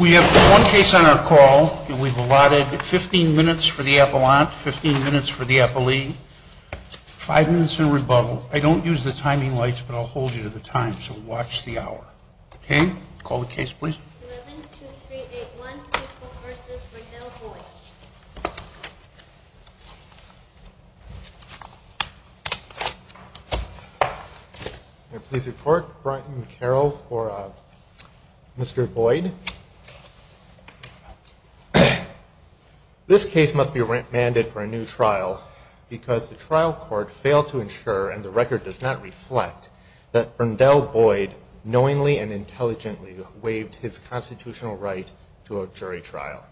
We have one case on our call, and we've allotted 15 minutes for the appellant, 15 minutes for the appellee, 5 minutes in rebuttal. I don't use the timing lights, but I'll hold you to the time, so watch the hour. Okay? Call the case, please. 11-2381 People v. Rondell Boyd Please report, Brent and Carol, for Mr. Boyd. This case must be remanded for a new trial because the trial court failed to ensure, and the record does not reflect, that Rondell Boyd knowingly and intelligently waived his constitutional right to a jury trial.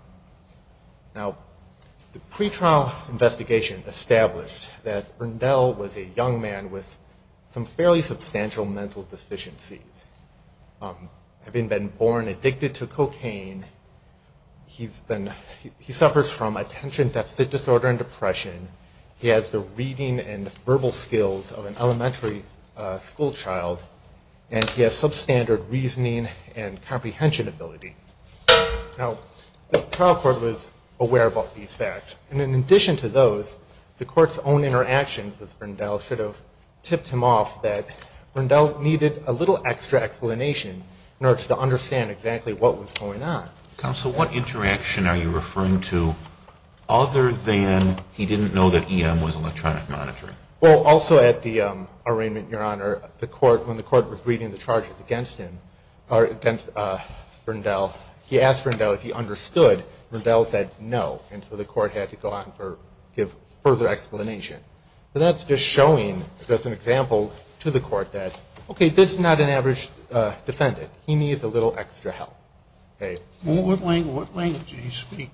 Now, the pretrial investigation established that Rondell was a young man with some fairly substantial mental deficiencies. Having been born addicted to cocaine, he suffers from attention deficit disorder and depression, he has the reading and verbal skills of an elementary school child, and he has substandard reasoning and comprehension ability. Now, the trial court was aware about these facts, and in addition to those, the court's own interactions with Rondell should have tipped him off that Rondell needed a little extra explanation in order to understand exactly what was going on. Counsel, what interaction are you referring to other than he didn't know that EM was electronic monitoring? Well, also at the arraignment, Your Honor, when the court was reading the charges against Rondell, he asked Rondell if he understood. Rondell said no, and so the court had to go on to give further explanation. So that's just showing, as an example, to the court that, okay, this is not an average defendant. He needs a little extra help. What language did he speak?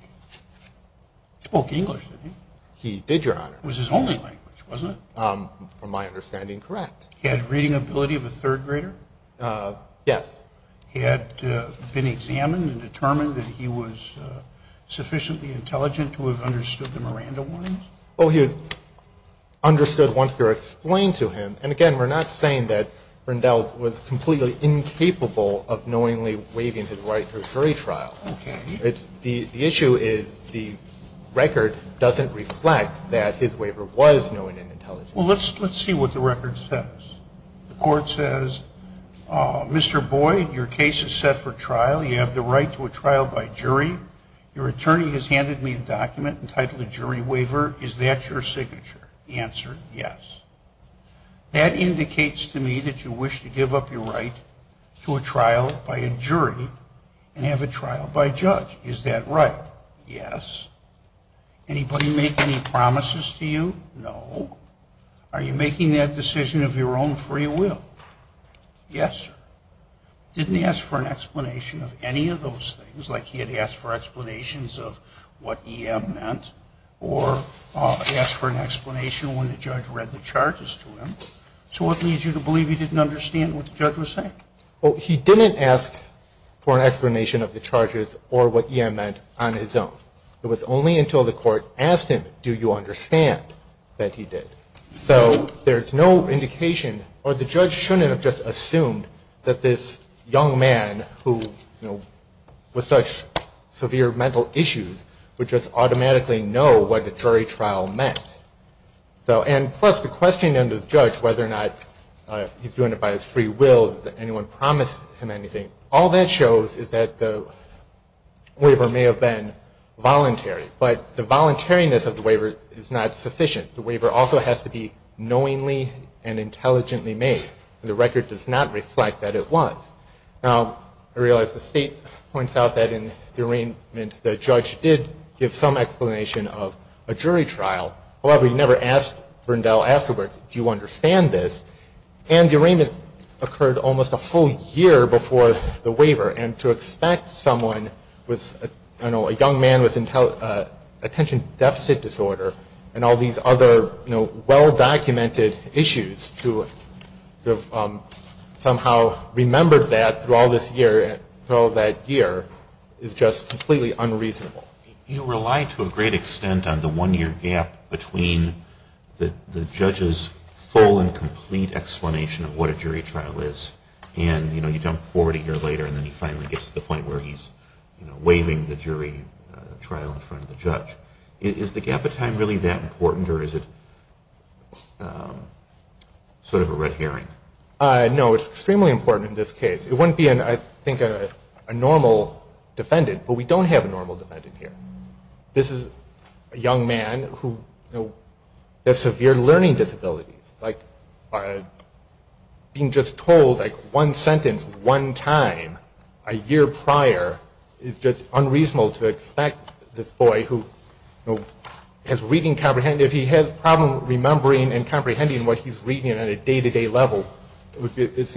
He spoke English, didn't he? He did, Your Honor. It was his only language, wasn't it? From my understanding, correct. He had reading ability of a third grader? Yes. He had been examined and determined that he was sufficiently intelligent to have understood the Miranda warnings? Oh, he was understood once they were explained to him, and again, we're not saying that Rondell was completely incapable of knowingly waiving his right to a jury trial. Okay. The issue is the record doesn't reflect that his waiver was knowing and intelligent. Well, let's see what the record says. The court says, Mr. Boyd, your case is set for trial. You have the right to a trial by jury. Your attorney has handed me a document entitled a jury waiver. Is that your signature? The answer, yes. That indicates to me that you wish to give up your right to a trial by a jury and have a trial by a judge. Is that right? Yes. Anybody make any promises to you? No. Are you making that decision of your own free will? Yes, sir. Didn't he ask for an explanation of any of those things, like he had asked for explanations of what EM meant, or he asked for an explanation when the judge read the charges to him? So what leads you to believe he didn't understand what the judge was saying? Well, he didn't ask for an explanation of the charges or what EM meant on his own. It was only until the court asked him, do you understand, that he did. So there's no indication, or the judge shouldn't have just assumed that this young man who, you know, with such severe mental issues would just automatically know what a jury trial meant. And plus, to question him, the judge, whether or not he's doing it by his free will, does anyone promise him anything, all that shows is that the waiver may have been voluntary. But the voluntariness of the waiver is not sufficient. The waiver also has to be knowingly and intelligently made. The record does not reflect that it was. Now, I realize the state points out that in the arraignment, the judge did give some explanation of a jury trial. However, he never asked Brundell afterwards, do you understand this? And the arraignment occurred almost a full year before the waiver, and to expect someone with, I don't know, a young man with attention deficit disorder and all these other, you know, well-documented issues to have somehow remembered that through all this year, through all that year, is just completely unreasonable. You rely to a great extent on the one-year gap between the judge's full and complete explanation of what a jury trial is, and, you know, you jump forward a year later, and then he finally gets to the point where he's, you know, waiving the jury trial in front of the judge. Is the gap of time really that important, or is it sort of a red herring? No, it's extremely important in this case. It wouldn't be, I think, a normal defendant, but we don't have a normal defendant here. This is a young man who has severe learning disabilities. Like, being just told, like, one sentence one time a year prior is just unreasonable to expect this boy who, you know, has reading comprehension, if he had a problem remembering and comprehending what he's reading at a day-to-day level, it's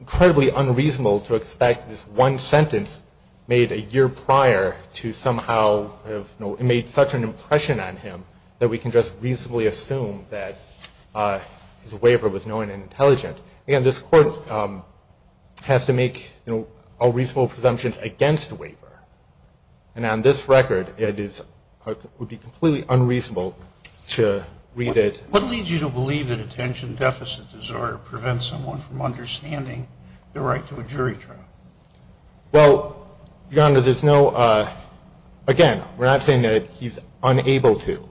incredibly unreasonable to expect this one sentence made a year prior to somehow have made such an impression on him that we can just reasonably assume that his waiver was knowing and intelligent. Again, this Court has to make, you know, all reasonable presumptions against a waiver, and on this record it would be completely unreasonable to read it. What leads you to believe that attention deficit disorder prevents someone from understanding their right to a jury trial? Well, Your Honor, there's no, again, we're not saying that he's unable to.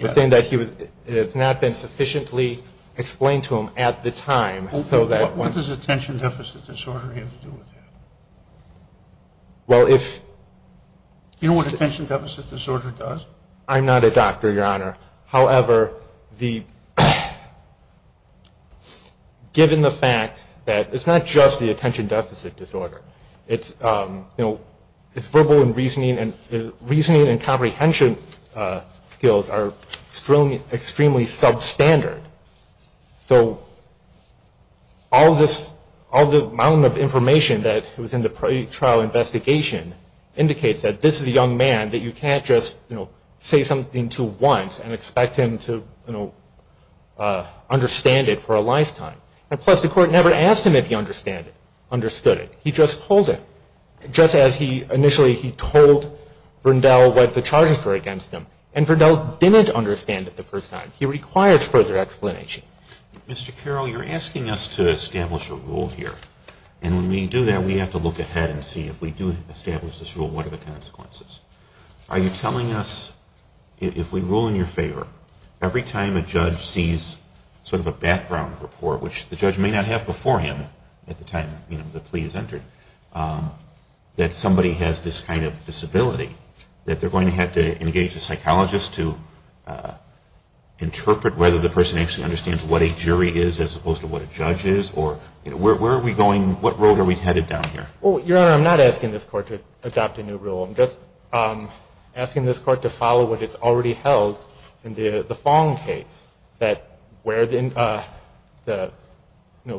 We're saying that it has not been sufficiently explained to him at the time so that. What does attention deficit disorder have to do with that? Well, if... Do you know what attention deficit disorder does? I'm not a doctor, Your Honor. However, given the fact that it's not just the attention deficit disorder... It's verbal and reasoning, and reasoning and comprehension skills are extremely substandard. So all the amount of information that was in the pre-trial investigation indicates that this is a young man, that you can't just, you know, say something to him once and expect him to, you know, understand it for a lifetime. And plus, the Court never asked him if he understood it. He just told him, just as initially he told Verndell what the charges were against him, and Verndell didn't understand it the first time. He required further explanation. Mr. Carroll, you're asking us to establish a rule here, and when we do that, we have to look ahead and see if we do establish this rule, what are the consequences? Are you telling us, if we rule in your favor, every time a judge sees sort of a background report, which the judge may not have before him at the time, you know, the plea is entered, that somebody has this kind of disability, that they're going to have to engage a psychologist to interpret whether the person actually understands what a jury is as opposed to what a judge is, or where are we going, what road are we headed down here? Well, Your Honor, I'm not asking this Court to adopt a new rule. I'm just asking this Court to follow what is already held in the Fong case, where the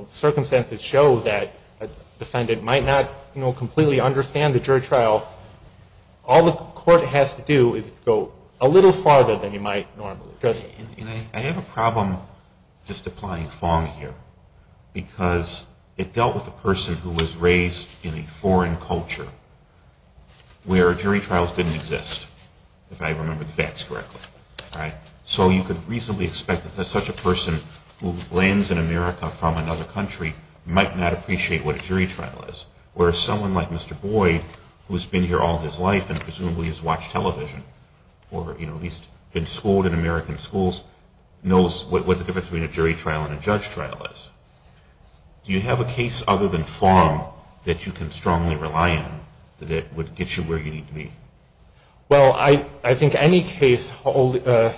circumstances show that a defendant might not completely understand the jury trial. All the Court has to do is go a little farther than you might normally. I have a problem just applying Fong here, because it dealt with a person who was raised in a foreign culture, where jury trials didn't exist, if I remember the facts correctly. So you could reasonably expect that such a person who lands in America from another country might not appreciate what a jury trial is, whereas someone like Mr. Boyd, who has been here all his life and presumably has watched television, or at least been schooled in American schools, knows what the difference between a jury trial and a judge trial is. Do you have a case other than Fong that you can strongly rely on that would get you where you need to be? Well, I think any case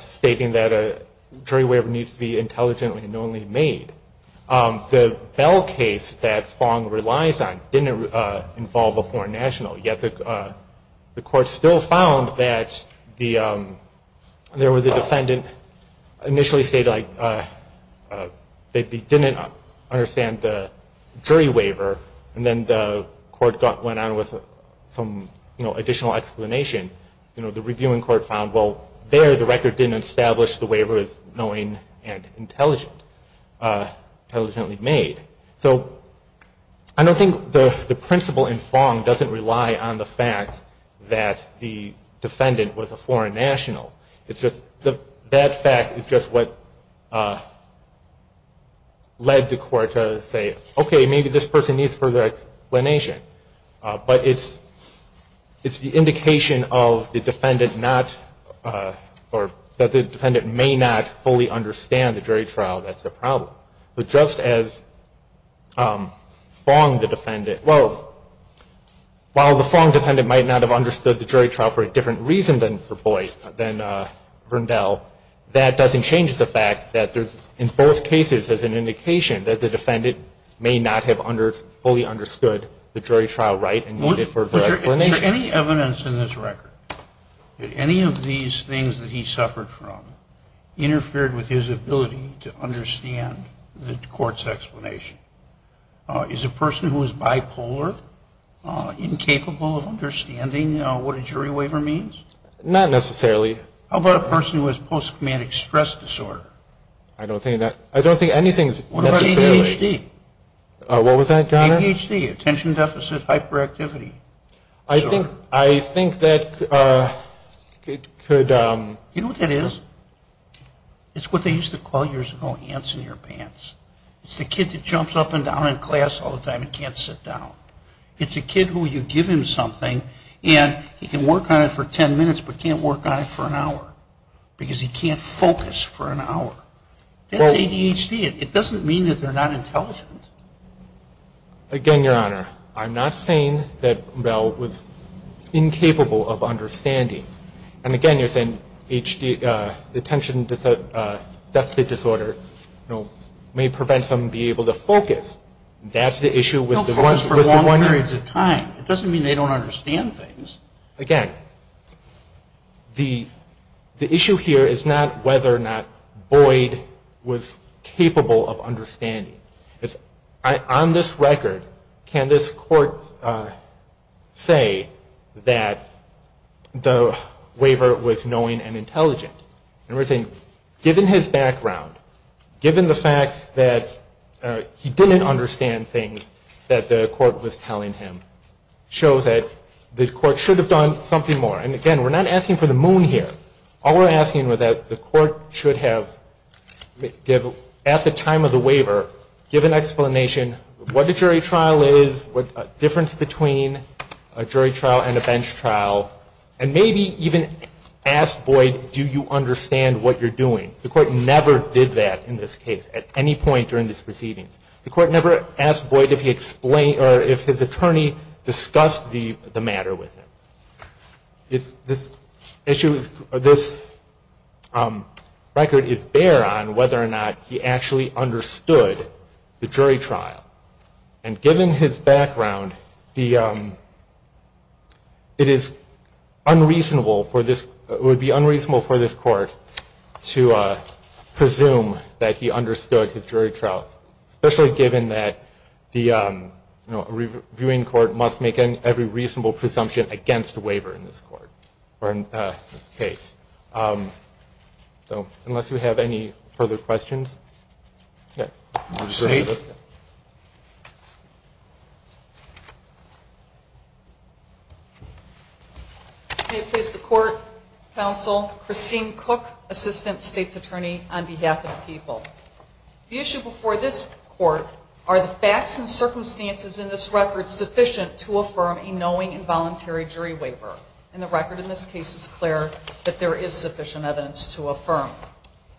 stating that a jury waiver needs to be intelligently and knowingly made. The Bell case that Fong relies on didn't involve a foreign national, yet the Court still found that there was a defendant initially stated that they didn't understand the jury waiver, and then the Court went on with some additional explanation. The reviewing Court found, well, there the record didn't establish the waiver is knowing and intelligently made. So I don't think the principle in Fong doesn't rely on the fact that the defendant was a foreign national. That fact is just what led the Court to say, okay, maybe this person needs further explanation. But it's the indication that the defendant may not fully understand the jury trial that's the problem. But just as Fong, the defendant, well, while the Fong defendant might not have understood the jury trial for a different reason than Verndell, that doesn't change the fact that in both cases there's an indication that the defendant may not have fully understood the jury trial right and needed further explanation. Is there any evidence in this record that any of these things that he suffered from interfered with his ability to understand the Court's explanation? Is a person who is bipolar incapable of understanding what a jury waiver means? Not necessarily. How about a person who has post-traumatic stress disorder? I don't think anything is necessarily. What about ADHD? What was that, John? ADHD, attention deficit hyperactivity disorder. I think that could... You know what that is? It's what they used to call years ago ants in your pants. It's the kid that jumps up and down in class all the time and can't sit down. It's a kid who you give him something and he can work on it for 10 minutes but can't work on it for an hour because he can't focus for an hour. That's ADHD. It doesn't mean that they're not intelligent. Again, Your Honor, I'm not saying that Bell was incapable of understanding. And again, you're saying attention deficit disorder may prevent someone from being able to focus. That's the issue with the one... They'll focus for long periods of time. It doesn't mean they don't understand things. Again, the issue here is not whether or not Boyd was capable of understanding. On this record, can this court say that the waiver was knowing and intelligent? Given his background, given the fact that he didn't understand things that the court was telling him, shows that the court should have done something more. And again, we're not asking for the moon here. All we're asking is that the court should have, at the time of the waiver, given an explanation, what a jury trial is, the difference between a jury trial and a bench trial, and maybe even asked Boyd, do you understand what you're doing? The court never did that in this case at any point during this proceedings. The court never asked Boyd if his attorney discussed the matter with him. This issue, this record is bare on whether or not he actually understood the jury trial. And given his background, it is unreasonable for this, it would be unreasonable for this court to presume that he understood his jury trials, especially given that the reviewing court must make every reasonable presumption against a waiver in this court, or in this case. Unless you have any further questions. Okay. May it please the court, counsel, Christine Cook, assistant state's attorney on behalf of the people. The issue before this court are the facts and circumstances in this record sufficient to affirm a knowing and voluntary jury waiver. And the record in this case is clear that there is sufficient evidence to affirm.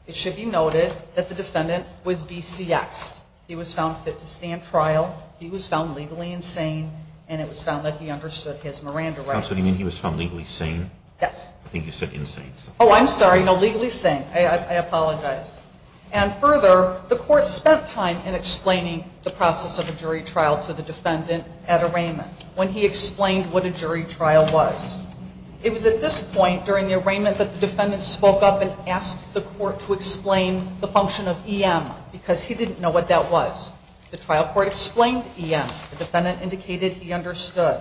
It should be noted that the defendant was VCXed. He was found fit to stand trial. He was found legally insane. And it was found that he understood his Miranda rights. Counsel, do you mean he was found legally sane? Yes. I think you said insane. Oh, I'm sorry. No, legally sane. I apologize. And further, the court spent time in explaining the process of a jury trial to the defendant at arraignment, when he explained what a jury trial was. It was at this point during the arraignment that the defendant spoke up and asked the court to explain the function of EM, because he didn't know what that was. The trial court explained EM. The defendant indicated he understood.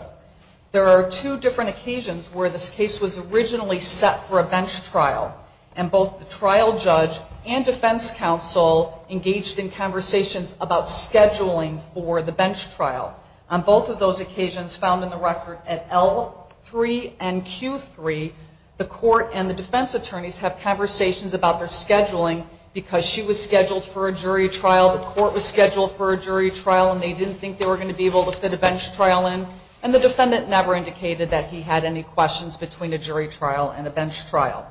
There are two different occasions where this case was originally set for a bench trial, and both the trial judge and defense counsel engaged in conversations about scheduling for the bench trial. On both of those occasions, found in the record at L3 and Q3, the court and the defense attorneys have conversations about their scheduling, because she was scheduled for a jury trial, the court was scheduled for a jury trial, and they didn't think they were going to be able to fit a bench trial in. And the defendant never indicated that he had any questions between a jury trial and a bench trial.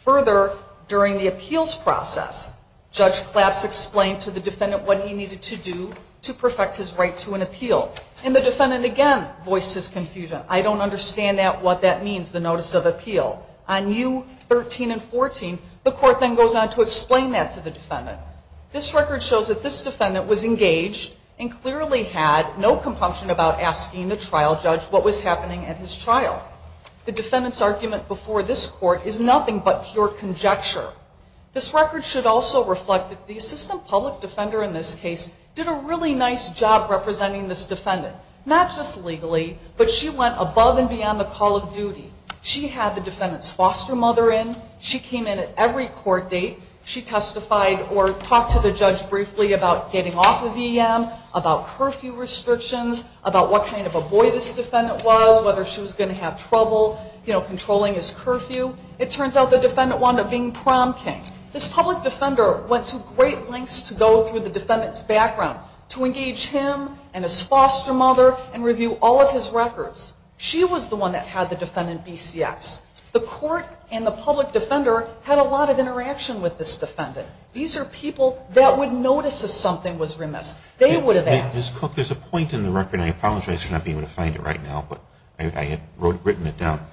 Further, during the appeals process, Judge Claps explained to the defendant what he needed to do to perfect his right to an appeal, and the defendant again voiced his confusion. I don't understand what that means, the notice of appeal. On U13 and 14, the court then goes on to explain that to the defendant. This record shows that this defendant was engaged and clearly had no compunction about asking the trial judge what was happening at his trial. The defendant's argument before this court is nothing but pure conjecture. This record should also reflect that the assistant public defender in this case did a really nice job representing this defendant. Not just legally, but she went above and beyond the call of duty. She had the defendant's foster mother in. She came in at every court date. She testified or talked to the judge briefly about getting off of EM, about curfew restrictions, about what kind of a boy this defendant was, whether she was going to have trouble controlling his curfew. It turns out the defendant wound up being prom king. This public defender went to great lengths to go through the defendant's background to engage him and his foster mother and review all of his records. She was the one that had the defendant BCX. The court and the public defender had a lot of interaction with this defendant. These are people that would notice if something was remiss. They would have asked. Ms. Cook, there's a point in the record, and I apologize for not being able to find it right now, but I had written it down,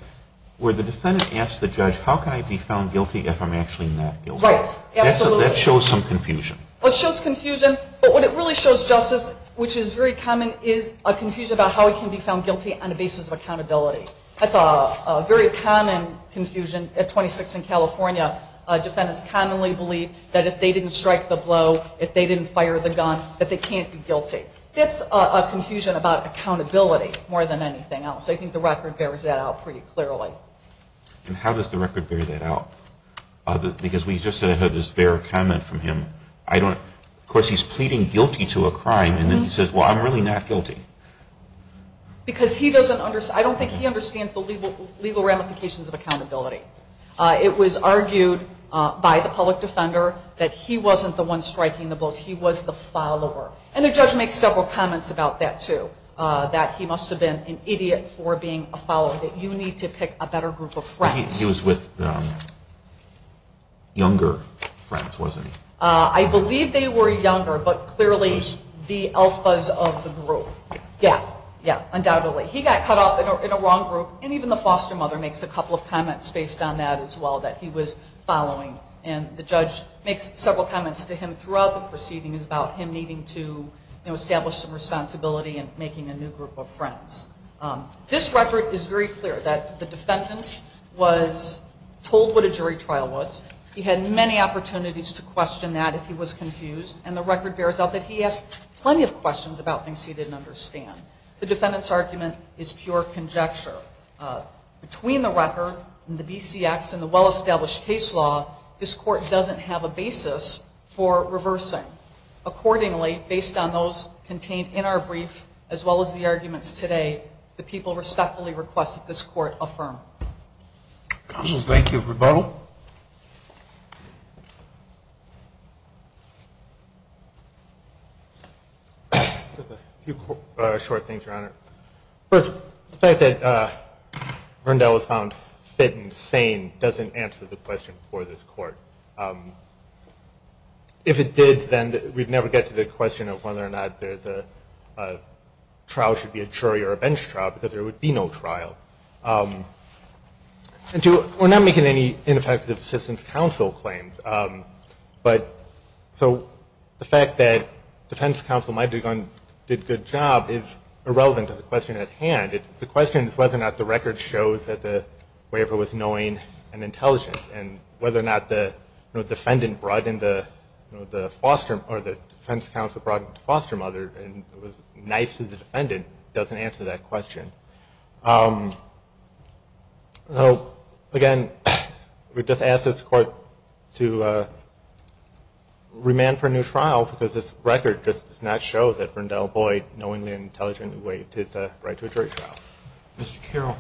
where the defendant asked the judge, how can I be found guilty if I'm actually not guilty? Right, absolutely. That shows some confusion. It shows confusion, but what it really shows, Justice, which is very common, is a confusion about how he can be found guilty on the basis of accountability. That's a very common confusion at 26th and California. Defendants commonly believe that if they didn't strike the blow, if they didn't fire the gun, that they can't be guilty. That's a confusion about accountability more than anything else. I think the record bears that out pretty clearly. And how does the record bear that out? Because we just said I heard this bare comment from him. Of course, he's pleading guilty to a crime, and then he says, well, I'm really not guilty. Because he doesn't understand. I don't think he understands the legal ramifications of accountability. It was argued by the public defender that he wasn't the one striking the blows. He was the follower. And the judge makes several comments about that, too, that he must have been an idiot for being a follower, that you need to pick a better group of friends. He was with younger friends, wasn't he? I believe they were younger, but clearly the alphas of the group. Yeah, yeah, undoubtedly. He got caught up in a wrong group, and even the foster mother makes a couple of comments based on that as well, that he was following. And the judge makes several comments to him throughout the proceedings about him needing to establish some responsibility and making a new group of friends. This record is very clear that the defendant was told what a jury trial was. He had many opportunities to question that if he was confused, and the record bears out that he asked plenty of questions about things he didn't understand. The defendant's argument is pure conjecture. Between the record and the BCX and the well-established case law, this court doesn't have a basis for reversing. Accordingly, based on those contained in our brief, as well as the arguments today, the people respectfully request that this court affirm. Counsel, thank you. Rebuttal. A few short things, Your Honor. First, the fact that Verndell was found fit and sane doesn't answer the question for this court. If it did, then we'd never get to the question of whether or not there's a trial should be a jury or a bench trial, because there would be no trial. And two, we're not making any ineffective assistance counsel claims, but so the fact that defense counsel might have done a good job is irrelevant to the question at hand. The question is whether or not the record shows that the waiver was knowing and intelligent, and whether or not the defendant brought in the foster or the defense counsel brought in the foster mother and was nice to the defendant doesn't answer that question. Again, we just ask this court to remand for a new trial, because this record just does not show that Verndell Boyd, knowingly and intelligently waived his right to a jury trial. Mr. Carroll,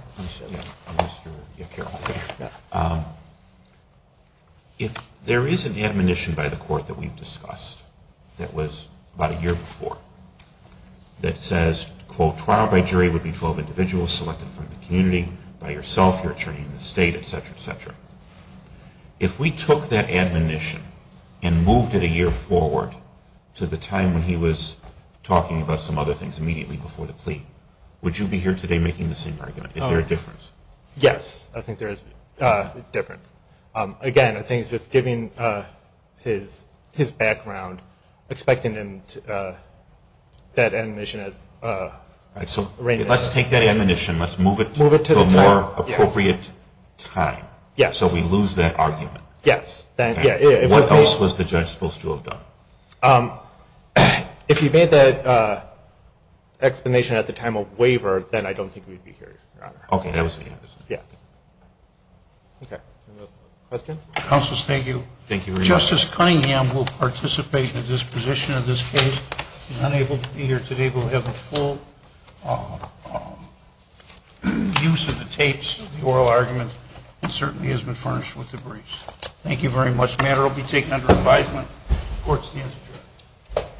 if there is an admonition by the court that we've discussed that was about a year before that says, quote, trial by jury would be 12 individuals selected from the community, by yourself, your attorney in the state, et cetera, et cetera. If we took that admonition and moved it a year forward to the time when he was talking about some other things immediately before the plea, would you be here today making the same argument? Is there a difference? Yes. I think there is a difference. Again, I think it's just giving his background, expecting him to that admonition. All right. So let's take that admonition, let's move it to a more appropriate time. Yes. So we lose that argument. Yes. What else was the judge supposed to have done? If he made that explanation at the time of waiver, then I don't think we'd be here, Your Honor. Okay. I understand. Yes. Okay. Questions? Counselors, thank you. Thank you very much. Justice Cunningham will participate in the disposition of this case. He's unable to be here today. He will have a full use of the tapes, the oral argument, and certainly has been furnished with the briefs. Thank you very much. This matter will be taken under advisement. Court stands adjourned.